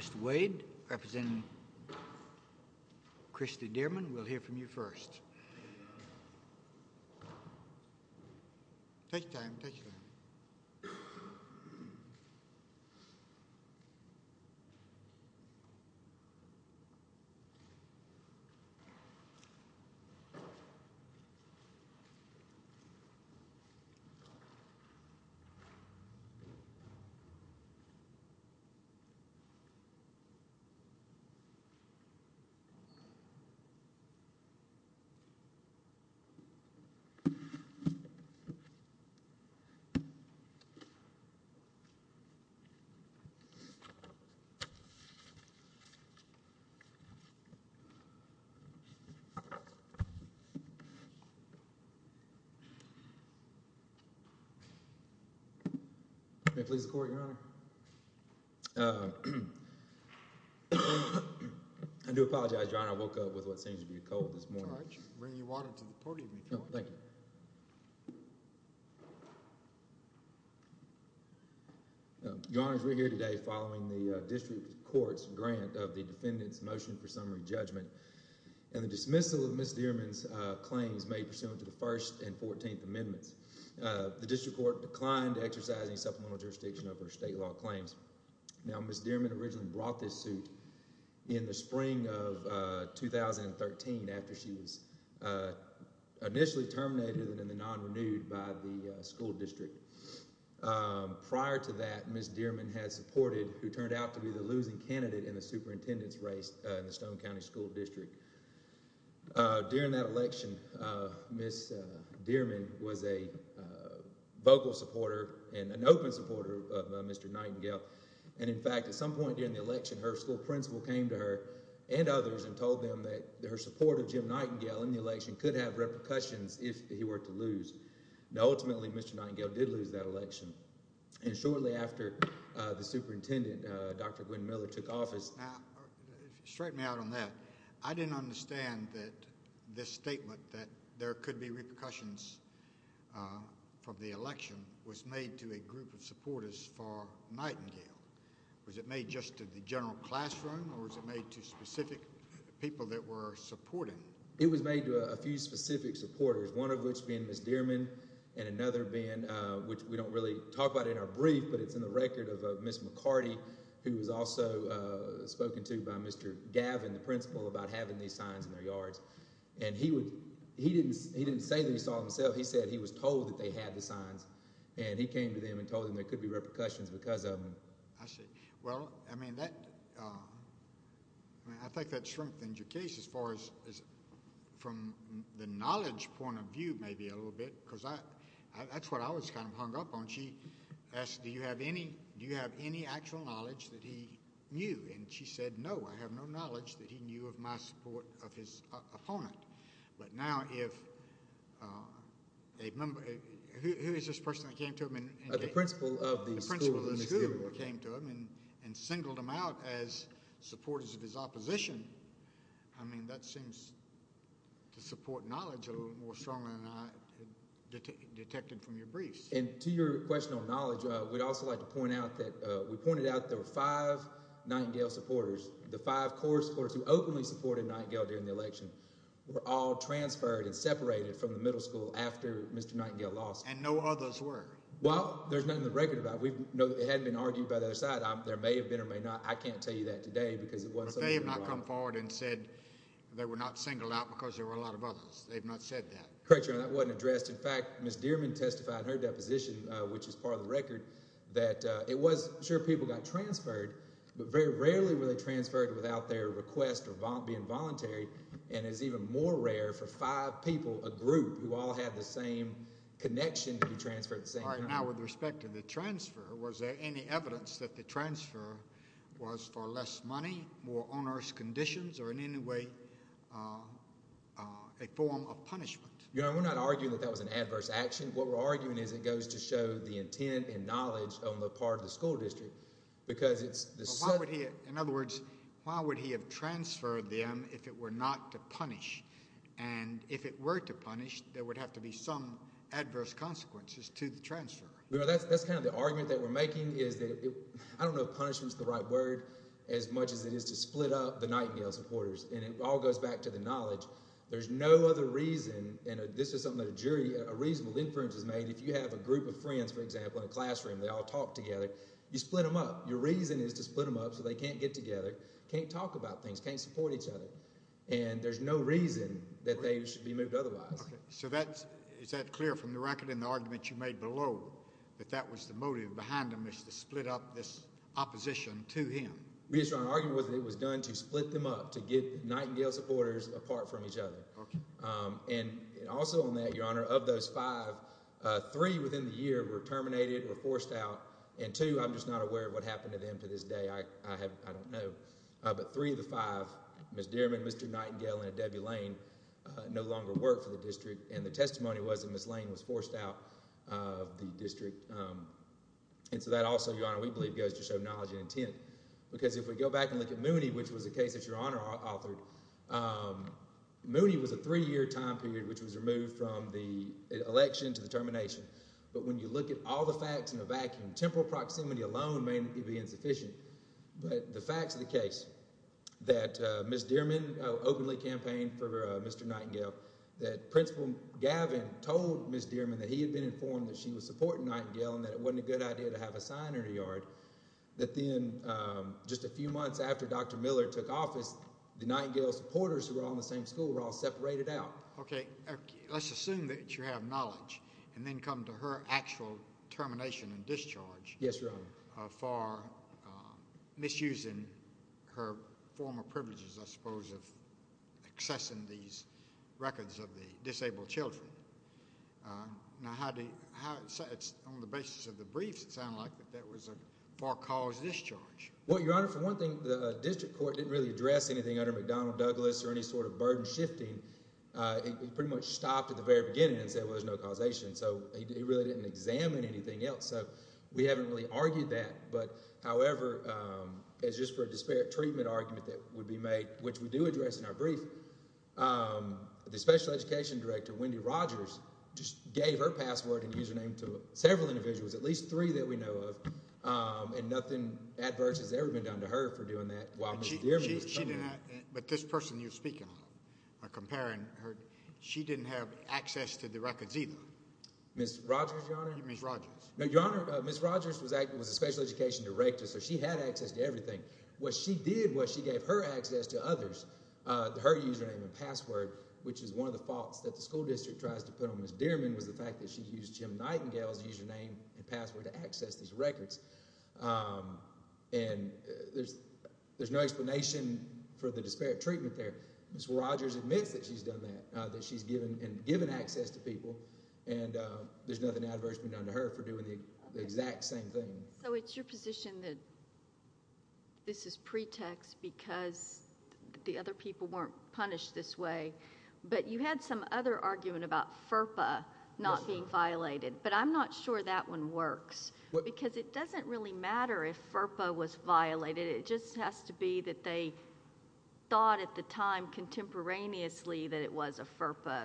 Mr. Wade, representing Kristi Dearman, we'll hear from you first. Take your time, take your time. Take your time. May it please the Court, Your Honor. I do apologize, Your Honor. I woke up with what seems to be a cold this morning. All right. Bring your water to the podium, Your Honor. Thank you. Your Honors, we're here today following the district court's grant of the defendant's motion for summary judgment and the dismissal of Ms. Dearman's claims made pursuant to the First and Fourteenth Amendments. The district court declined to exercise any supplemental jurisdiction over state law claims. Now, Ms. Dearman originally brought this suit in the spring of 2013 after she was initially terminated in the non-renewed by the school district. Prior to that, Ms. Dearman had supported, who turned out to be the losing candidate in the superintendent's race in the Stone County School District. During that election, Ms. Dearman was a vocal supporter and an open supporter of Mr. Nightingale. And, in fact, at some point during the election, her school principal came to her and others and told them that her supporter, Jim Nightingale, in the election could have repercussions if he were to lose. Now, ultimately, Mr. Nightingale did lose that election. And shortly after the superintendent, Dr. Gwen Miller, took office— I can understand that this statement that there could be repercussions from the election was made to a group of supporters for Nightingale. Was it made just to the general classroom or was it made to specific people that were supporting? It was made to a few specific supporters, one of which being Ms. Dearman and another being, which we don't really talk about in our brief, but it's in the record of Ms. McCarty, who was also spoken to by Mr. Gavin, the principal, about having these signs in their yards. And he didn't say that he saw them himself. He said he was told that they had the signs. And he came to them and told them there could be repercussions because of them. I see. Well, I mean, I think that strengthens your case as far as from the knowledge point of view, maybe a little bit, because that's what I was kind of hung up on. She asked, do you have any actual knowledge that he knew? And she said, no, I have no knowledge that he knew of my support of his opponent. But now if a member—who is this person that came to him and— The principal of the school. The principal of the school came to him and singled him out as supporters of his opposition. I mean, that seems to support knowledge a little more strongly than I detected from your briefs. And to your question on knowledge, we'd also like to point out that—we pointed out there were five Nightingale supporters. The five core supporters who openly supported Nightingale during the election were all transferred and separated from the middle school after Mr. Nightingale lost. And no others were. Well, there's nothing to reckon about. We know that it hadn't been argued by the other side. There may have been or may not. I can't tell you that today because it wasn't something— But they have not come forward and said they were not singled out because there were a lot of others. They've not said that. Correct, Your Honor. That wasn't addressed. In fact, Ms. Dearman testified in her deposition, which is part of the record, that it was—sure, people got transferred, but very rarely were they transferred without their request or being voluntary. And it's even more rare for five people, a group, who all had the same connection to be transferred at the same time. All right. Now, with respect to the transfer, was there any evidence that the transfer was for less money, more onerous conditions, or in any way a form of punishment? Your Honor, we're not arguing that that was an adverse action. What we're arguing is it goes to show the intent and knowledge on the part of the school district because it's— In other words, why would he have transferred them if it were not to punish? And if it were to punish, there would have to be some adverse consequences to the transfer. That's kind of the argument that we're making is that—I don't know if punishment's the right word as much as it is to split up the Nightingale supporters. And it all goes back to the knowledge. There's no other reason—and this is something that a jury, a reasonable inference has made. If you have a group of friends, for example, in a classroom, they all talk together, you split them up. Your reason is to split them up so they can't get together, can't talk about things, can't support each other. And there's no reason that they should be moved otherwise. Okay. So that's—is that clear from the record in the argument you made below that that was the motive behind them is to split up this opposition to him? We just aren't arguing whether it was done to split them up, to get Nightingale supporters apart from each other. Okay. And also on that, Your Honor, of those five, three within the year were terminated, were forced out. And two, I'm just not aware of what happened to them to this day. I don't know. But three of the five, Ms. Dierman, Mr. Nightingale, and Debbie Lane, no longer work for the district. And the testimony was that Ms. Lane was forced out of the district. And so that also, Your Honor, we believe goes to show knowledge and intent. Because if we go back and look at Mooney, which was a case that Your Honor authored, Mooney was a three-year time period which was removed from the election to the termination. But when you look at all the facts in a vacuum, temporal proximity alone may be insufficient. But the facts of the case, that Ms. Dierman openly campaigned for Mr. Nightingale, that Principal Gavin told Ms. Dierman that he had been informed that she was supporting Nightingale and that it wasn't a good idea to have a sign in her yard, that then just a few months after Dr. Miller took office, the Nightingale supporters who were all in the same school were all separated out. Okay. Let's assume that you have knowledge and then come to her actual termination and discharge. Yes, Your Honor. For misusing her former privileges, I suppose, of accessing these records of the disabled children. Now, on the basis of the briefs, it sounded like that was a far-caused discharge. Well, Your Honor, for one thing, the district court didn't really address anything under McDonnell Douglas or any sort of burden shifting. It pretty much stopped at the very beginning and said, well, there's no causation. So, it really didn't examine anything else. So, we haven't really argued that. However, as just for a disparate treatment argument that would be made, which we do address in our brief, the special education director, Wendy Rogers, just gave her password and username to several individuals, at least three that we know of, and nothing adverse has ever been done to her for doing that. But this person you're speaking of, comparing her, she didn't have access to the records either. Ms. Rogers, Your Honor? Ms. Rogers. No, Your Honor, Ms. Rogers was a special education director, so she had access to everything. What she did was she gave her access to others, her username and password, which is one of the faults that the school district tries to put on Ms. Dearman was the fact that she used Jim Nightingale's username and password to access these records. And there's no explanation for the disparate treatment there. Ms. Rogers admits that she's done that, that she's given access to people, and there's nothing adverse being done to her for doing the exact same thing. So it's your position that this is pretext because the other people weren't punished this way, but you had some other argument about FERPA not being violated, but I'm not sure that one works, because it doesn't really matter if FERPA was violated, it just has to be that they thought at the time contemporaneously that it was a FERPA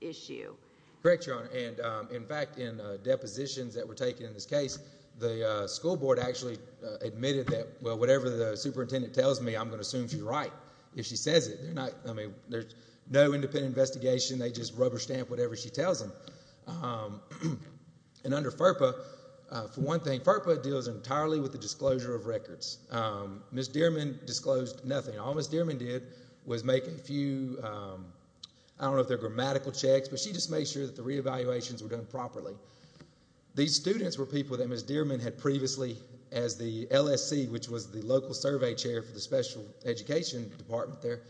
issue. Correct, Your Honor. And, in fact, in depositions that were taken in this case, the school board actually admitted that, well, whatever the superintendent tells me, I'm going to assume she's right if she says it. I mean, there's no independent investigation, they just rubber stamp whatever she tells them. And under FERPA, for one thing, FERPA deals entirely with the disclosure of records. Ms. Dearman disclosed nothing. All Ms. Dearman did was make a few, I don't know if they're grammatical checks, but she just made sure that the re-evaluations were done properly. These students were people that Ms. Dearman had previously, as the LSC, which was the local survey chair for the special education department there,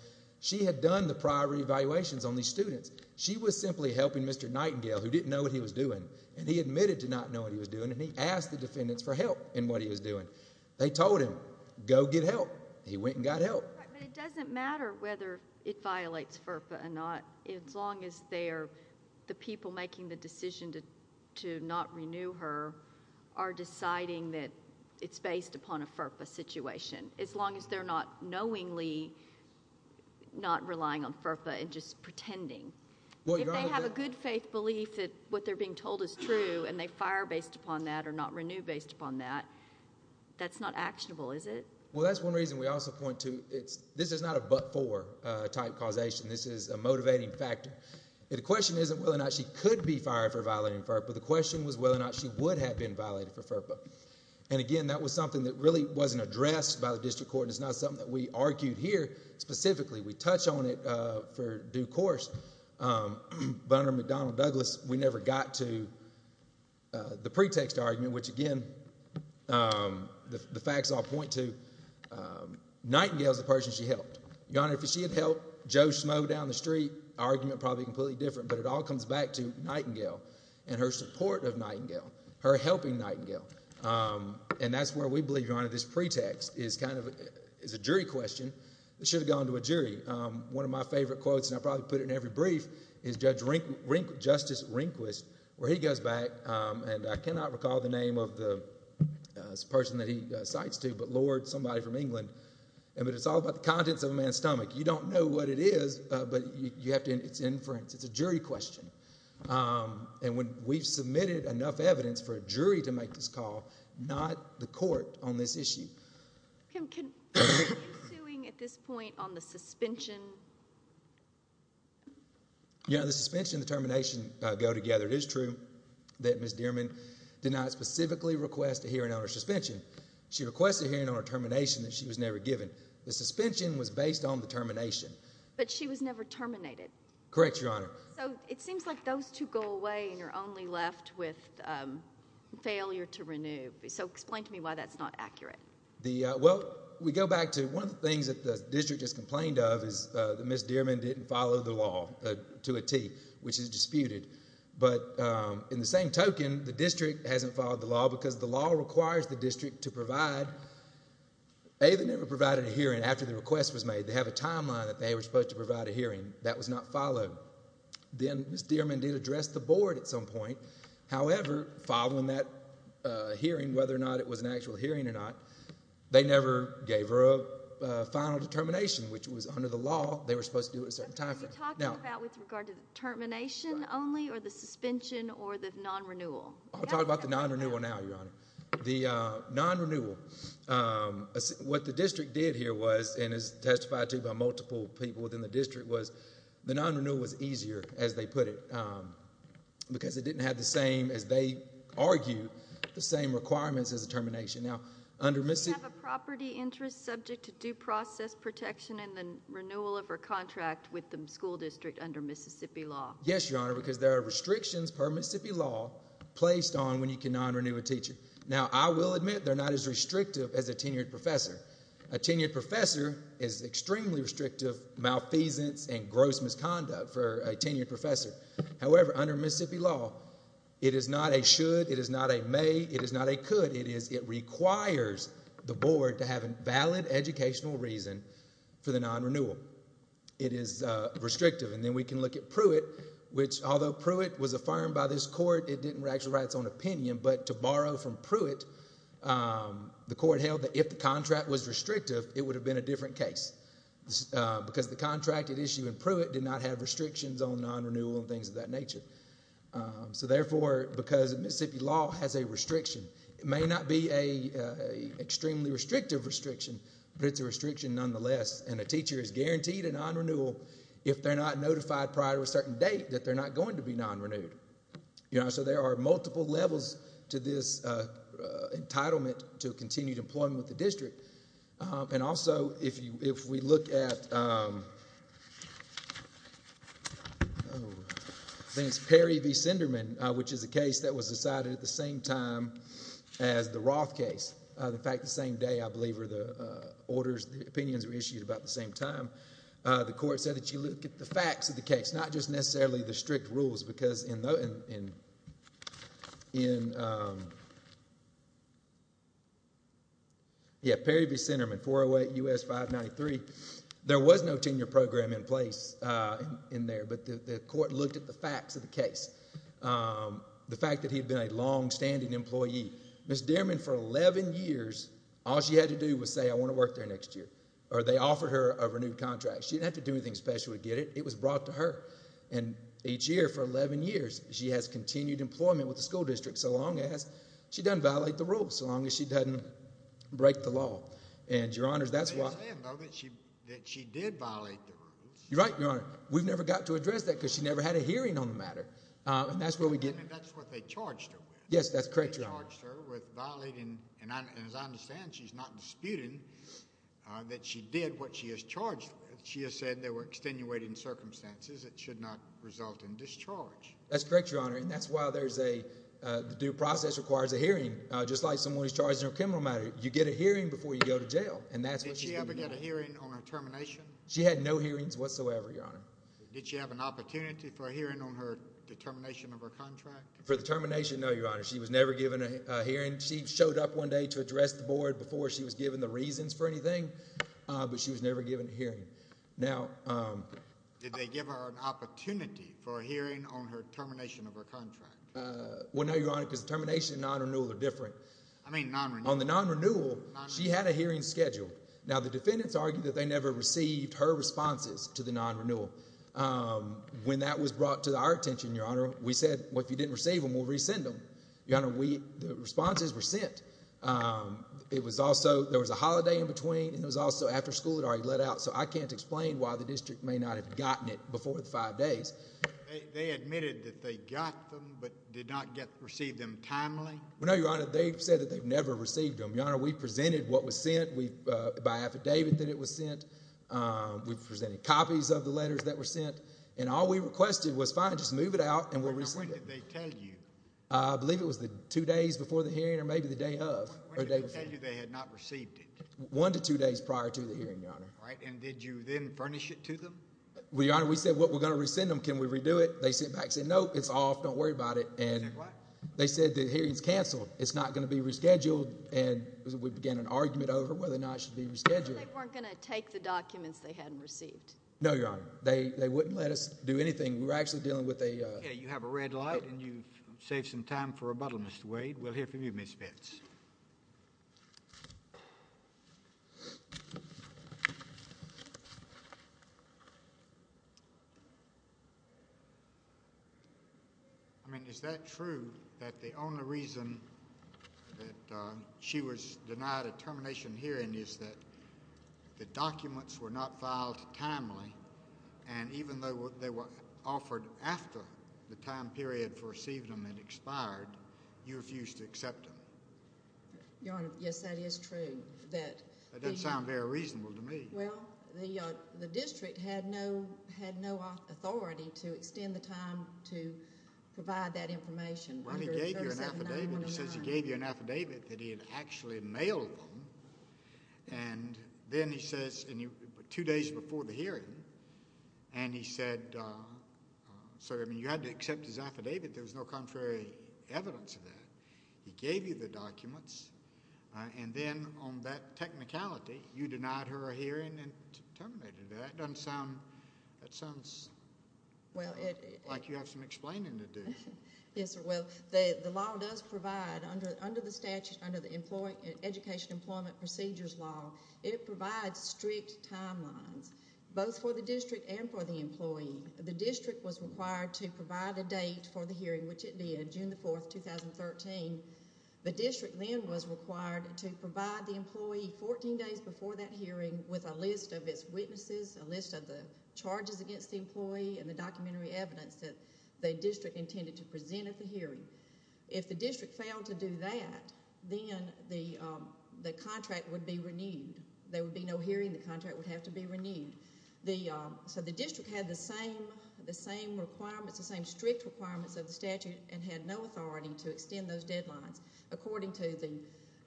she had done the prior re-evaluations on these students. She was simply helping Mr. Nightingale, who didn't know what he was doing, and he admitted to not knowing what he was doing, and he asked the defendants for help in what he was doing. They told him, go get help. He went and got help. But it doesn't matter whether it violates FERPA or not, as long as the people making the decision to not renew her are deciding that it's based upon a FERPA situation. As long as they're not knowingly not relying on FERPA and just pretending. If they have a good faith belief that what they're being told is true, and they fire based upon that or not renew based upon that, that's not actionable, is it? Well, that's one reason we also point to, this is not a but-for type causation. This is a motivating factor. The question isn't whether or not she could be fired for violating FERPA. The question was whether or not she would have been violated for FERPA. And again, that was something that really wasn't addressed by the district court, and it's not something that we argued here specifically. We touch on it for due course. But under McDonnell Douglas, we never got to the pretext argument, which again, the Nightingale's the person she helped. Your Honor, if she had helped Joe Smough down the street, argument probably completely different, but it all comes back to Nightingale and her support of Nightingale, her helping Nightingale. And that's where we believe, Your Honor, this pretext is kind of a jury question. It should have gone to a jury. One of my favorite quotes, and I probably put it in every brief, is Justice Rehnquist, where he goes back, and I cannot recall the name of the person that he cites to, but Lord, somebody from England. But it's all about the contents of a man's stomach. You don't know what it is, but it's inference. It's a jury question. And we've submitted enough evidence for a jury to make this call, not the court, on this issue. Are you suing at this point on the suspension? Yeah, the suspension and the termination go together. It is true that Ms. Dearman did not specifically request a hearing on her suspension. She requested a hearing on her termination that she was never given. The suspension was based on the termination. But she was never terminated. Correct, Your Honor. So it seems like those two go away and you're only left with failure to renew. So explain to me why that's not accurate. Well, we go back to one of the things that the district has complained of is that Ms. Dearman didn't follow the law to a T, which is disputed. But in the same token, the district hasn't followed the law because the law requires the district to provide... A, they never provided a hearing after the request was made. They have a timeline that they were supposed to provide a hearing. That was not followed. Then Ms. Dearman did address the board at some point. However, following that hearing, whether or not it was an actual hearing or not, they never gave her a final determination, which was under the law. They were supposed to do it a certain time frame. Are you talking about with regard to the termination only or the suspension or the non-renewal? I'm talking about the non-renewal now, Your Honor. The non-renewal, what the district did here was, and is testified to by multiple people within the district, was the non-renewal was easier, as they put it, because it didn't have the same, as they argue, the same requirements as a termination. Now, under Mississippi... Do you have a property interest subject to due process protection in the renewal of her contract with the school district under Mississippi law? Yes, Your Honor, because there are restrictions per Mississippi law placed on when you can non-renew a teacher. Now, I will admit they're not as restrictive as a tenured professor. A tenured professor is extremely restrictive malfeasance and gross misconduct for a tenured professor. However, under Mississippi law, it is not a should, it is not a may, it is not a could. It is, it requires the board to have a valid educational reason for the non-renewal. It is restrictive. And then we can look at Pruitt, which, although Pruitt was affirmed by this court, it didn't actually write its own opinion, but to borrow from Pruitt, the court held that if the contract was restrictive, it would have been a different case, because the contracted issue in Pruitt did not have restrictions on non-renewal and things of that nature. So, therefore, because Mississippi law has a restriction, it may not be a extremely restrictive restriction, but it's a restriction nonetheless, and a teacher is guaranteed a non-renewal if they're not notified prior to a certain date that they're not going to be non-renewed. So, there are multiple levels to this entitlement to continued employment with the district. And also, if we look at Perry v. Sinderman, which is a case that was decided at the same time as the Roth case, in fact, the same day, I believe, were the orders, the opinions were issued about the same time, the court said that you look at the facts of the case, not just necessarily the strict rules, because in Perry v. Sinderman, 408 U.S. 593, there was no tenure program in place in there, but the court looked at the facts of the case, the fact that he had been a longstanding employee. Ms. Dierman, for 11 years, all she had to do was say, I want to work there next year, or they offered her a renewed contract. She didn't have to do anything special to get it. It was brought to her. And each year, for 11 years, she has continued employment with the school district, so long as she doesn't violate the rules, so long as she doesn't break the law. And, Your Honor, that's why— They're saying, though, that she did violate the rules. You're right, Your Honor. We've never got to address that, because she never had a hearing on the matter. And that's where we get— I mean, that's what they charged her with. Yes, that's correct, Your Honor. They charged her with violating, and as I understand, she's not disputing that she did what she was charged with. She has said there were extenuating circumstances. It should not result in discharge. That's correct, Your Honor, and that's why there's a—the due process requires a hearing, just like someone who's charged in a criminal matter. You get a hearing before you go to jail, and that's what she's doing now. Did she ever get a hearing on her termination? She had no hearings whatsoever, Your Honor. Did she have an opportunity for a hearing on her determination of her contract? For the termination, no, Your Honor. She was never given a hearing. She showed up one day to address the board before she was given the reasons for anything, but she was never given a hearing. Now— Did they give her an opportunity for a hearing on her termination of her contract? Well, no, Your Honor, because the termination and non-renewal are different. I mean, non-renewal. On the non-renewal, she had a hearing scheduled. Now, the defendants argued that they never received her responses to the non-renewal. When that was brought to our attention, Your Honor, we said, well, if you didn't receive them, we'll resend them. Your Honor, we—the responses were sent. It was also—there was a holiday in between, and it was also after school had already let out, so I can't explain why the district may not have gotten it before the five days. They admitted that they got them, but did not receive them timely? Well, no, Your Honor, they said that they've never received them. Your Honor, we presented what was sent by affidavit that it was sent. We presented copies of the letters that were sent, and all we requested was, fine, just move it out, and we'll resend it. Now, when did they tell you? I believe it was the two days before the hearing or maybe the day of. When did they tell you they had not received it? One to two days prior to the hearing, Your Honor. All right, and did you then furnish it to them? Well, Your Honor, we said, well, we're going to resend them. Can we redo it? They sent back and said, no, it's off. Don't worry about it. They said what? They said the hearing's canceled. It's not going to be rescheduled, and we began an argument over whether or not it should be rescheduled. They weren't going to take the documents they hadn't received? No, Your Honor. They wouldn't let us do anything. We were actually dealing with a— Save some time for rebuttal, Mr. Wade. We'll hear from you, Ms. Fitts. I mean, is that true that the only reason that she was denied a termination hearing is that the documents were not filed timely, and even though they were offered after the time period for receiving them had expired, you refused to accept them? Your Honor, yes, that is true. That doesn't sound very reasonable to me. Well, the district had no authority to extend the time to provide that information. Well, he gave you an affidavit. He says he gave you an affidavit that he had actually mailed them, and then he says, two days before the hearing, and he said, so, I mean, you had to accept his affidavit. There was no contrary evidence of that. He gave you the documents, and then on that technicality, you denied her a hearing and terminated it. That doesn't sound—that sounds like you have some explaining to do. Yes, well, the law does provide, under the statute, under the Education Employment Procedures Law, it provides strict timelines, both for the district and for the employee. The district was required to provide a date for the hearing, which it did, June 4, 2013. The district then was required to provide the employee 14 days before that hearing with a list of its witnesses, a list of the charges against the employee, and the documentary evidence that the district intended to present at the hearing. If the district failed to do that, then the contract would be renewed. There would be no hearing. The contract would have to be renewed. So the district had the same requirements, the same strict requirements of the statute, and had no authority to extend those deadlines, according to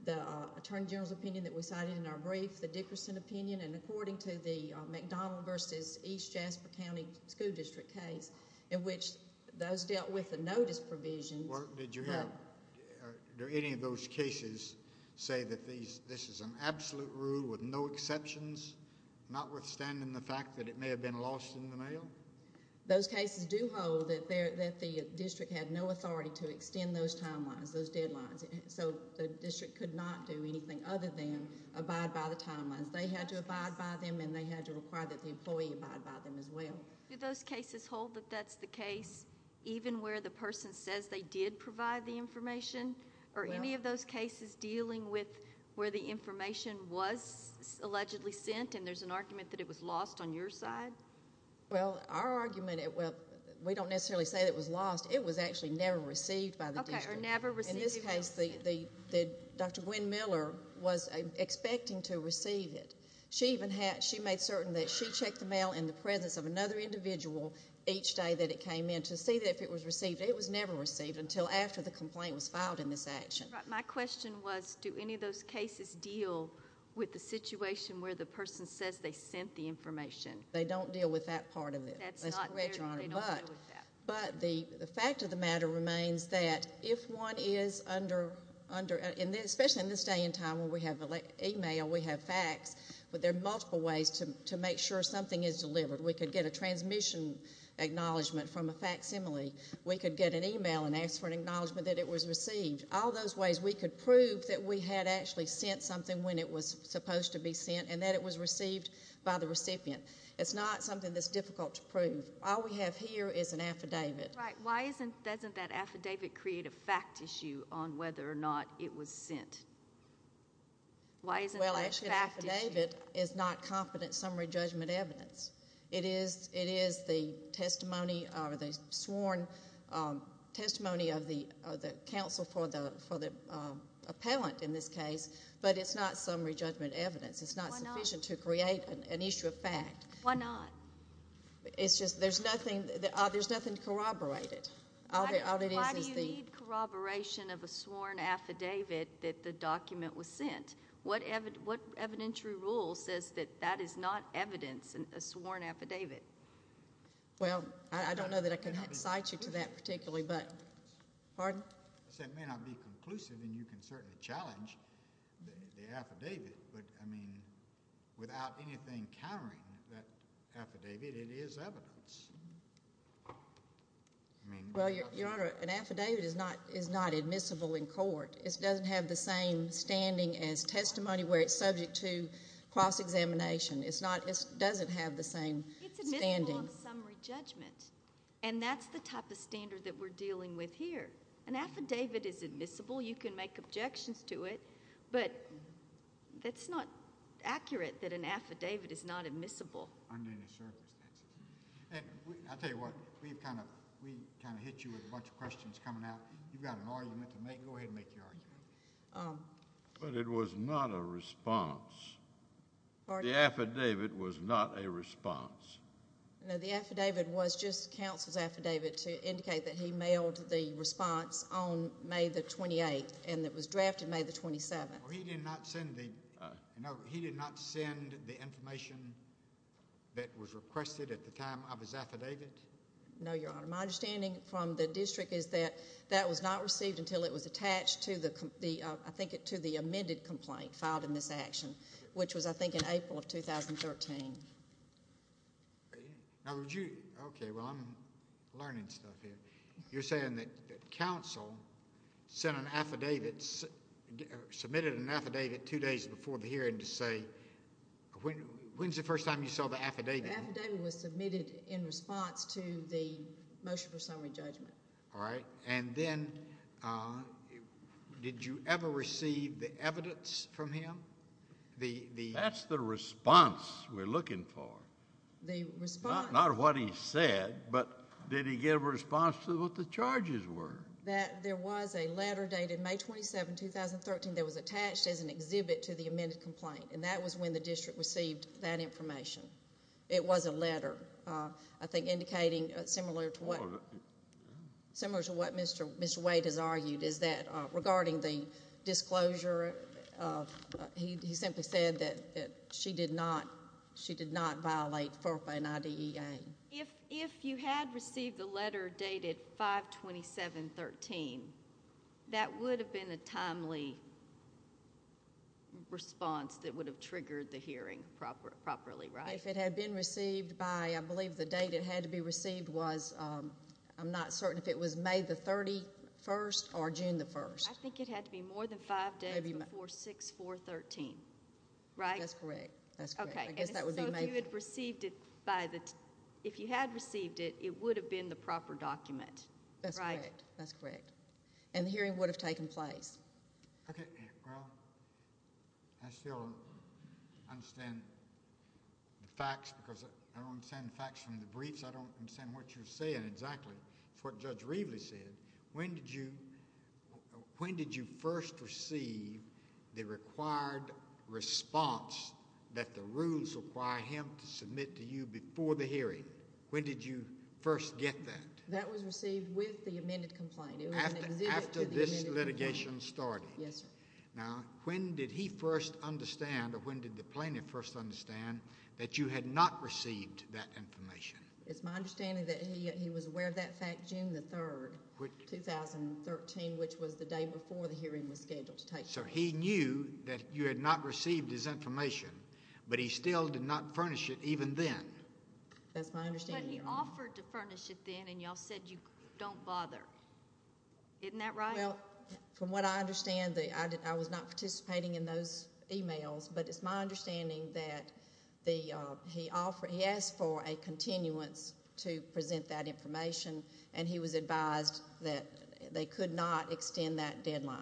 the attorney general's opinion that we cited in our brief, the Dickerson opinion, and according to the McDonald v. East Jasper County School District case, in which those dealt with the notice provisions. Did you have—did any of those cases say that this is an absolute rule with no exceptions, notwithstanding the fact that it may have been lost in the mail? Those cases do hold that the district had no authority to extend those timelines, those deadlines. So the district could not do anything other than abide by the timelines. They had to abide by them, and they had to require that the employee abide by them as well. Do those cases hold that that's the case, even where the person says they did provide the information, or any of those cases dealing with where the information was allegedly sent, and there's an argument that it was lost on your side? Well, our argument—well, we don't necessarily say that it was lost. It was actually never received by the district. Okay, or never received. In this case, Dr. Gwen Miller was expecting to receive it. She made certain that she checked the mail in the presence of another individual each day that it came in to see if it was received. It was never received until after the complaint was filed in this action. My question was, do any of those cases deal with the situation where the person says they sent the information? They don't deal with that part of it. That's correct, Your Honor. They don't deal with that. But the fact of the matter remains that if one is under—especially in this day and time where we have email, we have fax, but there are multiple ways to make sure something is delivered. We could get a transmission acknowledgment from a facsimile. We could get an email and ask for an acknowledgment that it was received. All those ways we could prove that we had actually sent something when it was supposed to be sent and that it was received by the recipient. It's not something that's difficult to prove. All we have here is an affidavit. Right. Why doesn't that affidavit create a fact issue on whether or not it was sent? Why isn't that a fact issue? Well, actually, an affidavit is not confident summary judgment evidence. It is the testimony or the sworn testimony of the counsel for the appellant in this case, but it's not summary judgment evidence. It's not sufficient to create an issue of fact. Why not? It's just there's nothing to corroborate it. Why do you need corroboration of a sworn affidavit that the document was sent? What evidentiary rule says that that is not evidence, a sworn affidavit? Well, I don't know that I can cite you to that particularly. Pardon? It may not be conclusive, and you can certainly challenge the affidavit, but, I mean, without anything countering that affidavit, it is evidence. Well, Your Honor, an affidavit is not admissible in court. It doesn't have the same standing as testimony where it's subject to cross-examination. It doesn't have the same standing. It's admissible on summary judgment, and that's the type of standard that we're dealing with here. An affidavit is admissible. You can make objections to it, but that's not accurate that an affidavit is not admissible. I'll tell you what. We kind of hit you with a bunch of questions coming out. You've got an argument to make. Go ahead and make your argument. But it was not a response. The affidavit was not a response. No, the affidavit was just counsel's affidavit to indicate that he mailed the response on May the 28th and it was drafted May the 27th. He did not send the information that was requested at the time of his affidavit? No, Your Honor. My understanding from the district is that that was not received until it was attached to the, I think, to the amended complaint filed in this action, which was, I think, in April of 2013. Okay. Well, I'm learning stuff here. You're saying that counsel submitted an affidavit two days before the hearing to say, when's the first time you saw the affidavit? The affidavit was submitted in response to the motion for summary judgment. All right. And then did you ever receive the evidence from him? That's the response we're looking for. Not what he said, but did he give a response to what the charges were? There was a letter dated May 27, 2013, that was attached as an exhibit to the amended complaint, and that was when the district received that information. It was a letter, I think, indicating similar to what Mr. Wade has argued, is that regarding the disclosure, he simply said that she did not violate FERPA and IDEA. If you had received the letter dated 5-27-13, that would have been a timely response that would have triggered the hearing properly, right? If it had been received by, I believe the date it had to be received was, I'm not certain if it was May the 31st or June the 1st. I think it had to be more than five days before 6-4-13, right? That's correct. Okay. I guess that would be May. If you had received it, it would have been the proper document, right? That's correct. And the hearing would have taken place. Okay. Well, I still don't understand the facts because I don't understand the facts from the briefs. I don't understand what you're saying exactly. It's what Judge Reveley said. When did you first receive the required response that the rules require him to submit to you before the hearing? When did you first get that? That was received with the amended complaint. After this litigation started? Yes, sir. Now, when did he first understand or when did the plaintiff first understand that you had not received that information? It's my understanding that he was aware of that fact June the 3rd, 2013, which was the day before the hearing was scheduled to take place. So he knew that you had not received his information, but he still did not furnish it even then? That's my understanding, Your Honor. But he offered to furnish it then, and you all said you don't bother. Isn't that right? Well, from what I understand, I was not participating in those emails, but it's my understanding that he asked for a continuance to present that information, and he was advised that they could not extend that deadline.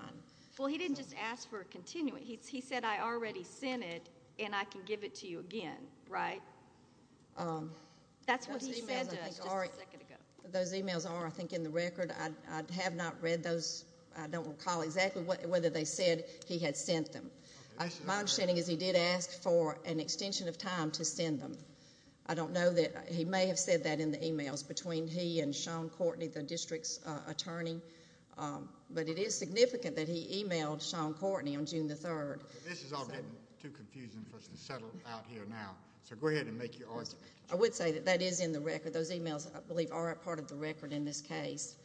Well, he didn't just ask for a continuance. He said, I already sent it, and I can give it to you again, right? That's what he said to us just a second ago. Those emails are, I think, in the record. I have not read those. I don't recall exactly whether they said he had sent them. My understanding is he did ask for an extension of time to send them. I don't know that he may have said that in the emails between he and Sean Courtney, the district's attorney, but it is significant that he emailed Sean Courtney on June the 3rd. This is all getting too confusing for us to settle out here now, so go ahead and make your argument. I would say that that is in the record. Those emails, I believe, are a part of the record in this case.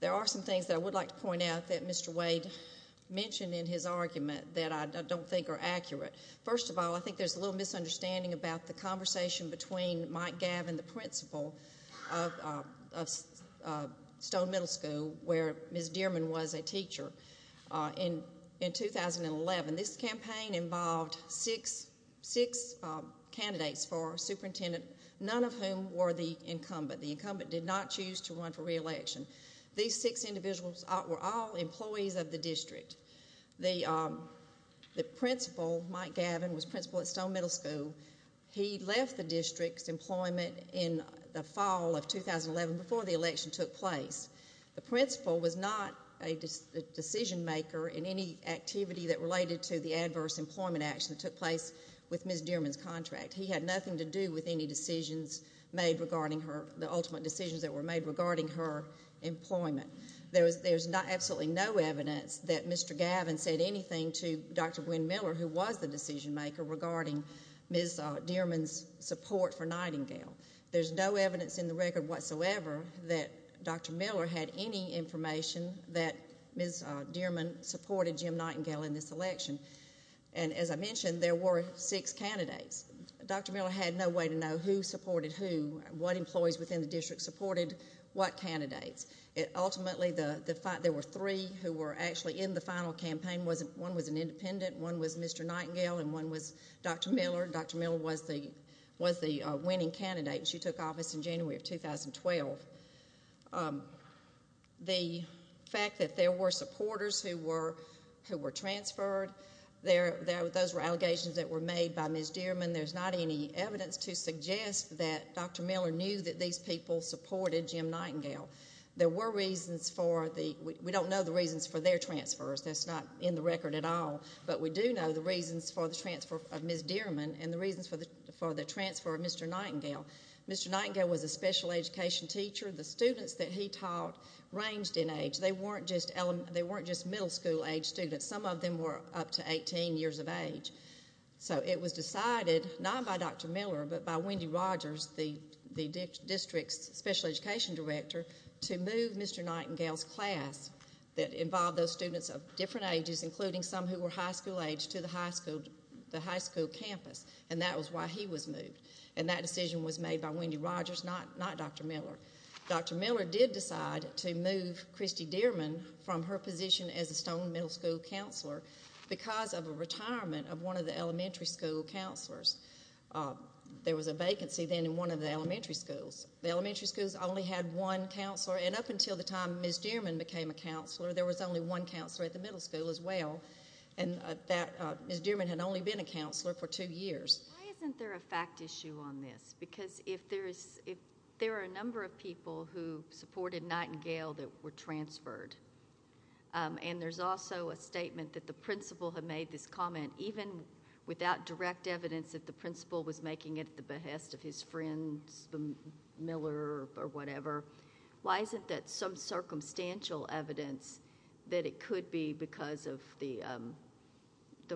There are some things that I would like to point out that Mr. Wade mentioned in his argument that I don't think are accurate. First of all, I think there's a little misunderstanding about the conversation between Mike Gabb and the principal of Stone Middle School, where Ms. Dearman was a teacher. In 2011, this campaign involved six candidates for superintendent, none of whom were the incumbent. The incumbent did not choose to run for reelection. These six individuals were all employees of the district. The principal, Mike Gabbin, was principal at Stone Middle School. He left the district's employment in the fall of 2011 before the election took place. The principal was not a decision maker in any activity that related to the adverse employment action that took place with Ms. Dearman's contract. He had nothing to do with any decisions made regarding her, the ultimate decisions that were made regarding her employment. There's absolutely no evidence that Mr. Gabbin said anything to Dr. Gwen Miller, who was the decision maker, regarding Ms. Dearman's support for Nightingale. There's no evidence in the record whatsoever that Dr. Miller had any information that Ms. Dearman supported Jim Nightingale in this election. And as I mentioned, there were six candidates. Dr. Miller had no way to know who supported who, what employees within the district supported what candidates. Ultimately, there were three who were actually in the final campaign. One was an independent, one was Mr. Nightingale, and one was Dr. Miller. Dr. Miller was the winning candidate, and she took office in January of 2012. The fact that there were supporters who were transferred, those were allegations that were made by Ms. Dearman. There's not any evidence to suggest that Dr. Miller knew that these people supported Jim Nightingale. There were reasons for the—we don't know the reasons for their transfers. That's not in the record at all. But we do know the reasons for the transfer of Ms. Dearman and the reasons for the transfer of Mr. Nightingale. Mr. Nightingale was a special education teacher. The students that he taught ranged in age. They weren't just middle school age students. Some of them were up to 18 years of age. So it was decided not by Dr. Miller but by Wendy Rogers, the district's special education director, to move Mr. Nightingale's class that involved those students of different ages, including some who were high school age, to the high school campus. And that was why he was moved. And that decision was made by Wendy Rogers, not Dr. Miller. Dr. Miller did decide to move Christy Dearman from her position as a Stone Middle School counselor because of a retirement of one of the elementary school counselors. There was a vacancy then in one of the elementary schools. The elementary schools only had one counselor. And up until the time Ms. Dearman became a counselor, there was only one counselor at the middle school as well. And Ms. Dearman had only been a counselor for two years. Why isn't there a fact issue on this? Because there are a number of people who supported Nightingale that were transferred. And there's also a statement that the principal had made this comment, even without direct evidence that the principal was making it at the behest of his friends, Miller or whatever. Why isn't that some circumstantial evidence that it could be because of the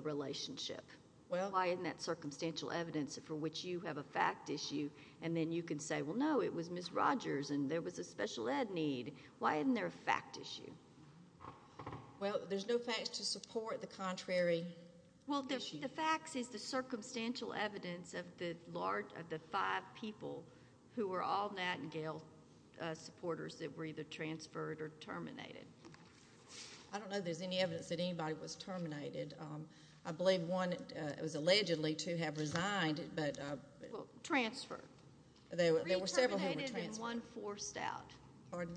relationship? Why isn't that circumstantial evidence for which you have a fact issue? And then you can say, well, no, it was Ms. Rogers and there was a special ed need. Why isn't there a fact issue? Well, there's no facts to support the contrary issue. Well, the facts is the circumstantial evidence of the five people who were all Nightingale supporters that were either transferred or terminated. I don't know if there's any evidence that anybody was terminated. I believe one was allegedly to have resigned. Transferred. There were several who were transferred. And one forced out. Pardon?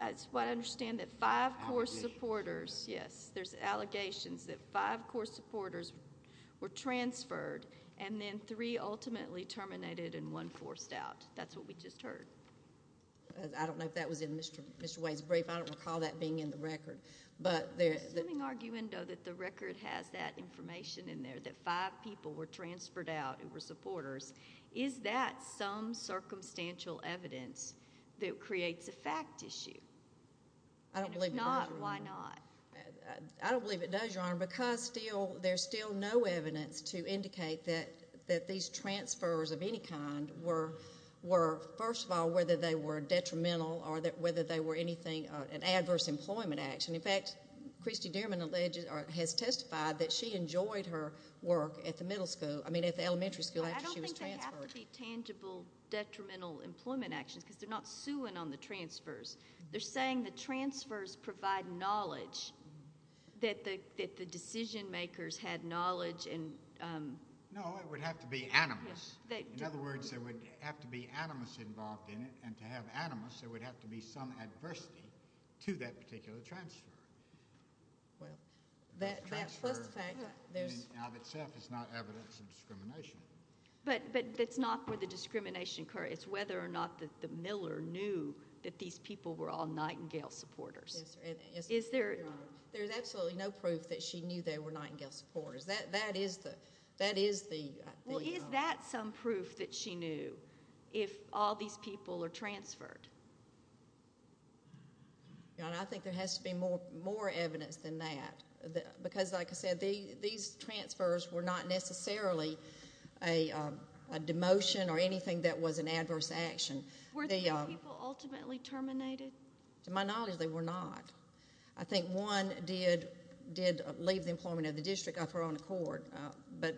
That's what I understand, that five core supporters, yes, there's allegations that five core supporters were transferred and then three ultimately terminated and one forced out. That's what we just heard. I don't know if that was in Mr. Wade's brief. I don't recall that being in the record. There's some argument, though, that the record has that information in there, that five people were transferred out who were supporters. Is that some circumstantial evidence that creates a fact issue? If not, why not? I don't believe it does, Your Honor, because there's still no evidence to indicate that these transfers of any kind were, first of all, whether they were detrimental or whether they were an adverse employment action. In fact, Christy Dierman has testified that she enjoyed her work at the elementary school where she was transferred. I don't think they have to be tangible detrimental employment actions because they're not suing on the transfers. They're saying the transfers provide knowledge, that the decision makers had knowledge. No, it would have to be animus. In other words, there would have to be animus involved in it, and to have animus there would have to be some adversity to that particular transfer. Well, that plus the fact that it's not evidence of discrimination. But that's not where the discrimination occurred. It's whether or not the miller knew that these people were all Nightingale supporters. Yes, sir. There's absolutely no proof that she knew they were Nightingale supporters. That is the— Well, is that some proof that she knew if all these people are transferred? I think there has to be more evidence than that because, like I said, these transfers were not necessarily a demotion or anything that was an adverse action. Were these people ultimately terminated? To my knowledge, they were not. I think one did leave the employment of the district of her own accord, but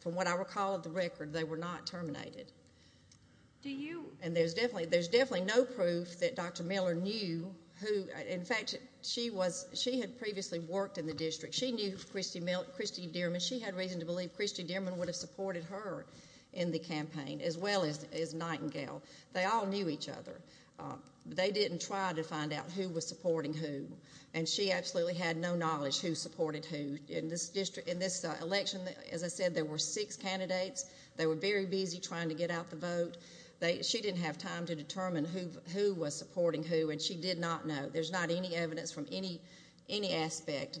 from what I recall of the record, they were not terminated. Do you— And there's definitely no proof that Dr. Miller knew who— In fact, she had previously worked in the district. She knew Christy Dierman. She had reason to believe Christy Dierman would have supported her in the campaign as well as Nightingale. They all knew each other. They didn't try to find out who was supporting who, and she absolutely had no knowledge who supported who. In this election, as I said, there were six candidates. They were very busy trying to get out the vote. She didn't have time to determine who was supporting who, and she did not know. There's not any evidence from any aspect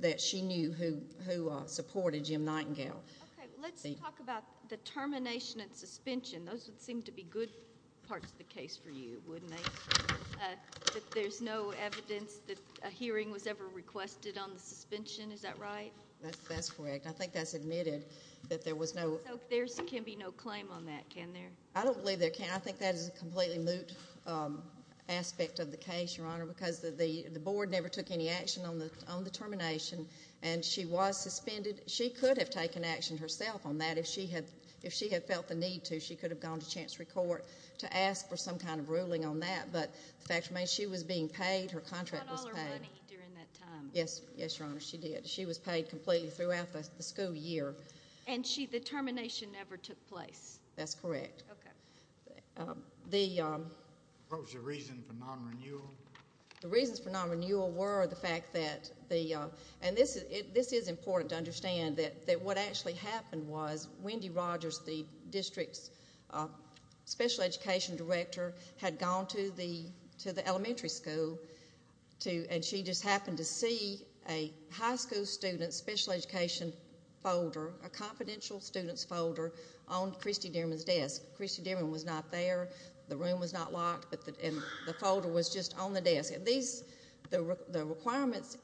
that she knew who supported Jim Nightingale. Okay. Let's talk about the termination and suspension. Those would seem to be good parts of the case for you, wouldn't they, that there's no evidence that a hearing was ever requested on the suspension? Is that right? That's correct. I think that's admitted that there was no— There can be no claim on that, can there? I don't believe there can. I think that is a completely moot aspect of the case, Your Honor, because the board never took any action on the termination, and she was suspended. She could have taken action herself on that if she had felt the need to. She could have gone to Chancery Court to ask for some kind of ruling on that, but the fact remains she was being paid. Her contract was paid. She got all her money during that time. Yes, Your Honor, she did. She was paid completely throughout the school year. And the termination never took place? That's correct. Okay. What was the reason for non-renewal? The reasons for non-renewal were the fact that the— and this is important to understand that what actually happened was Wendy Rogers, the district's special education director, had gone to the elementary school, and she just happened to see a high school student's special education folder, a confidential student's folder, on Christy Dierman's desk. Christy Dierman was not there. The room was not locked, and the folder was just on the desk. The requirements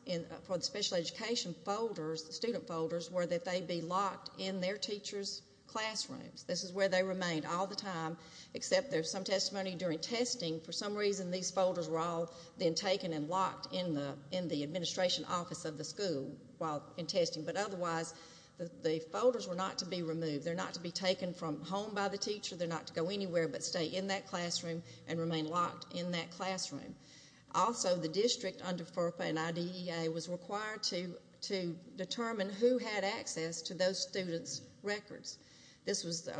for the special education folders, the student folders, were that they be locked in their teachers' classrooms. This is where they remained all the time, except there's some testimony during testing. For some reason, these folders were all then taken and locked in the administration office of the school while in testing. But otherwise, the folders were not to be removed. They're not to be taken from home by the teacher. They're not to go anywhere but stay in that classroom and remain locked in that classroom. Also, the district under FERPA and IDEA was required to determine who had access to those students' records. This was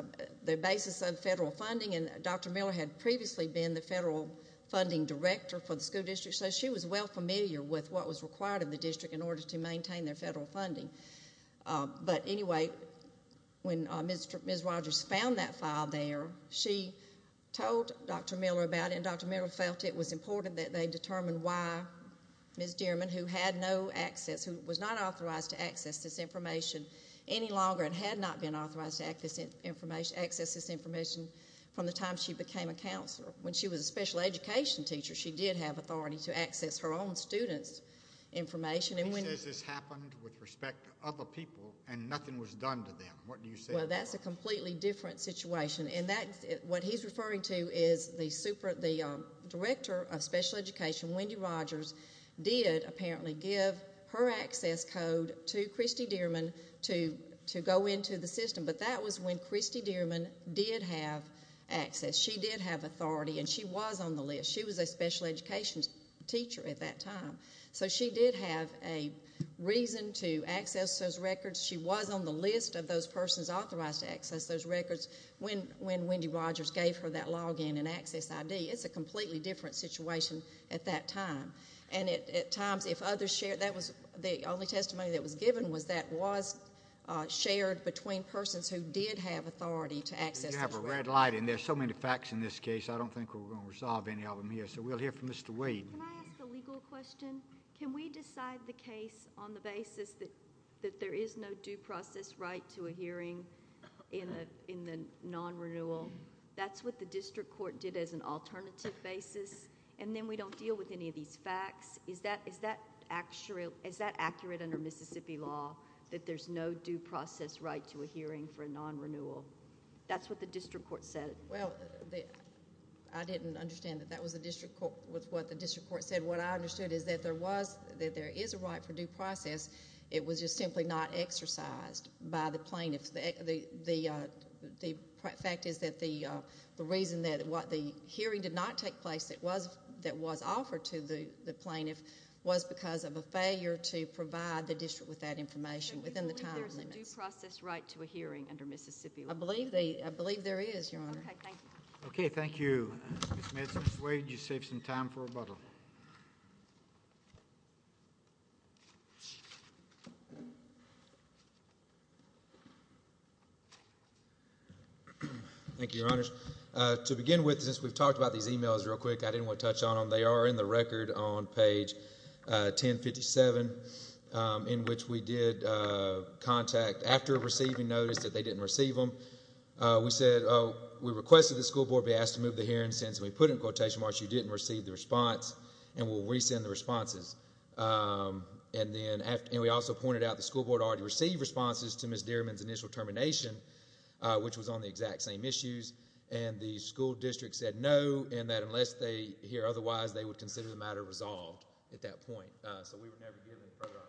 the basis of federal funding, and Dr. Miller had previously been the federal funding director for the school district, so she was well familiar with what was required of the district in order to maintain their federal funding. But anyway, when Ms. Rogers found that file there, she told Dr. Miller about it, and Dr. Miller felt it was important that they determine why Ms. Dierman, who had no access, who was not authorized to access this information any longer and had not been authorized to access this information from the time she became a counselor. When she was a special education teacher, she did have authority to access her own students' information. He says this happened with respect to other people and nothing was done to them. What do you say about that? Well, that's a completely different situation, and what he's referring to is the director of special education, Wendy Rogers, did apparently give her access code to Christy Dierman to go into the system, but that was when Christy Dierman did have access. She did have authority, and she was on the list. She was a special education teacher at that time, so she did have a reason to access those records. She was on the list of those persons authorized to access those records when Wendy Rogers gave her that login and access ID. It's a completely different situation at that time, and at times if others shared that was the only testimony that was given was that was shared between persons who did have authority to access those records. You have a red light, and there's so many facts in this case. I don't think we're going to resolve any of them here, so we'll hear from Mr. Wade. Can I ask a legal question? Can we decide the case on the basis that there is no due process right to a hearing in the non-renewal? That's what the district court did as an alternative basis, and then we don't deal with any of these facts. Is that accurate under Mississippi law that there's no due process right to a hearing for a non-renewal? That's what the district court said. Well, I didn't understand that that was what the district court said. What I understood is that there is a right for due process. It was just simply not exercised by the plaintiff. The fact is that the reason that the hearing did not take place that was offered to the plaintiff was because of a failure to provide the district with that information within the time limits. Do you believe there's a due process right to a hearing under Mississippi law? I believe there is, Your Honor. Okay, thank you. Okay, thank you. Ms. Manson-Swade, you saved some time for rebuttal. Thank you, Your Honors. To begin with, since we've talked about these e-mails real quick, I didn't want to touch on them. They are in the record on page 1057, in which we did contact after receiving notice that they didn't receive them. We requested the school board be asked to move the hearing since we put in quotation marks, you didn't receive the response, and we'll resend the responses. We also pointed out the school board already received responses to Ms. Dierman's initial termination, which was on the exact same issues, and the school district said no, and that unless they hear otherwise, they would consider the matter resolved at that point. So, we were never given a further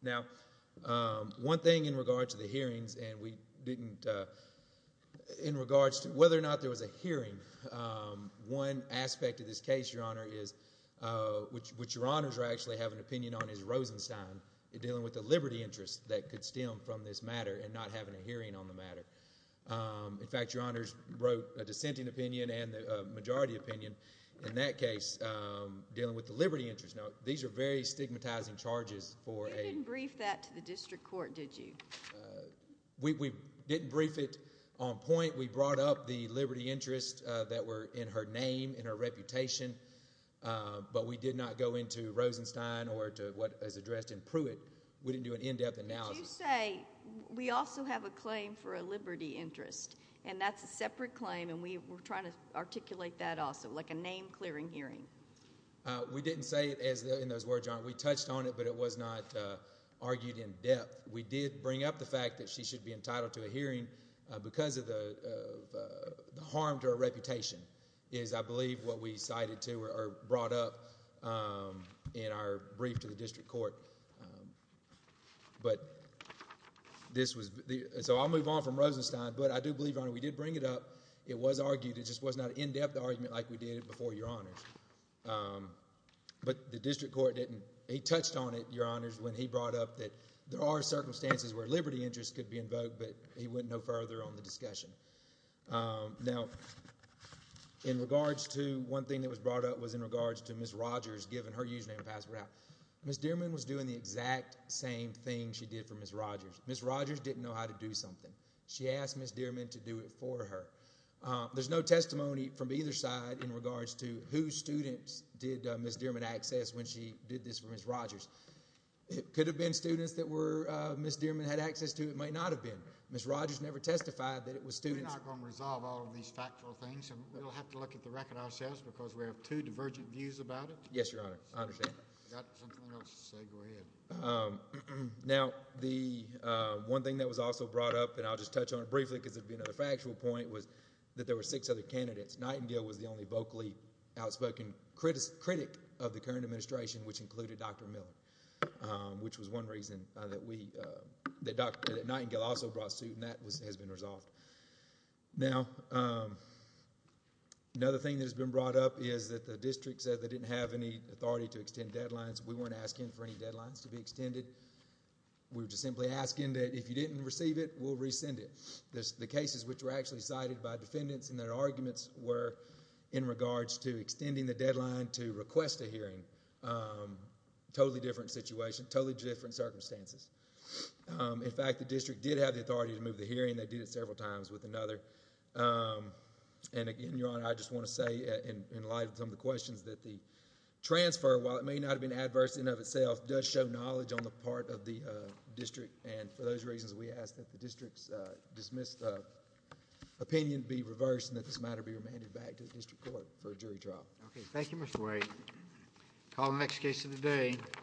opportunity. Now, one thing in regards to the hearings, and we didn't, in regards to whether or not there was a hearing, one aspect of this case, Your Honor, is, which Your Honors are actually having an opinion on, is Rosenstein dealing with the liberty interest that could stem from this matter and not having a hearing on the matter. In fact, Your Honors wrote a dissenting opinion and a majority opinion in that case dealing with the liberty interest. Now, these are very stigmatizing charges for a— You didn't brief that to the district court, did you? We didn't brief it on point. We brought up the liberty interest that were in her name, in her reputation, but we did not go into Rosenstein or to what is addressed in Pruitt. We didn't do an in-depth analysis. But you say, we also have a claim for a liberty interest, and that's a separate claim, and we're trying to articulate that also, like a name-clearing hearing. We didn't say it in those words, Your Honor. We touched on it, but it was not argued in depth. We did bring up the fact that she should be entitled to a hearing because of the harm to her reputation is, I believe, what we cited to or brought up in our brief to the district court. But this was—so I'll move on from Rosenstein, but I do believe, Your Honor, we did bring it up. It was argued. It just was not an in-depth argument like we did before, Your Honors. But the district court didn't—he touched on it, Your Honors, when he brought up that there are circumstances where liberty interest could be invoked, but he went no further on the discussion. Now, in regards to—one thing that was brought up was in regards to Ms. Rogers giving her username and password out. Ms. Dearman was doing the exact same thing she did for Ms. Rogers. Ms. Rogers didn't know how to do something. She asked Ms. Dearman to do it for her. There's no testimony from either side in regards to whose students did Ms. Dearman access when she did this for Ms. Rogers. It could have been students that Ms. Dearman had access to. It might not have been. Ms. Rogers never testified that it was students— We're not going to resolve all of these factual things, and we'll have to look at the record ourselves because we have two divergent views about it. Yes, Your Honor. I understand. I've got something else to say. Go ahead. Now, the one thing that was also brought up, and I'll just touch on it briefly because it would be another factual point, was that there were six other candidates. Nightingale was the only vocally outspoken critic of the current administration, which included Dr. Miller, which was one reason that Nightingale also brought suit, and that has been resolved. Now, another thing that has been brought up is that the district said they didn't have any authority to extend deadlines. We weren't asking for any deadlines to be extended. We were just simply asking that if you didn't receive it, we'll rescind it. The cases which were actually cited by defendants and their arguments were in regards to extending the deadline to request a hearing, totally different situation, totally different circumstances. In fact, the district did have the authority to move the hearing. They did it several times with another, and again, Your Honor, I just want to say in light of some of the questions that the transfer, while it may not have been adverse in and of itself, does show knowledge on the part of the district, and for those reasons, we ask that the district's dismissed opinion be reversed and that this matter be remanded back to the district court for a jury trial. Thank you, Mr. White. Call the next case of the day.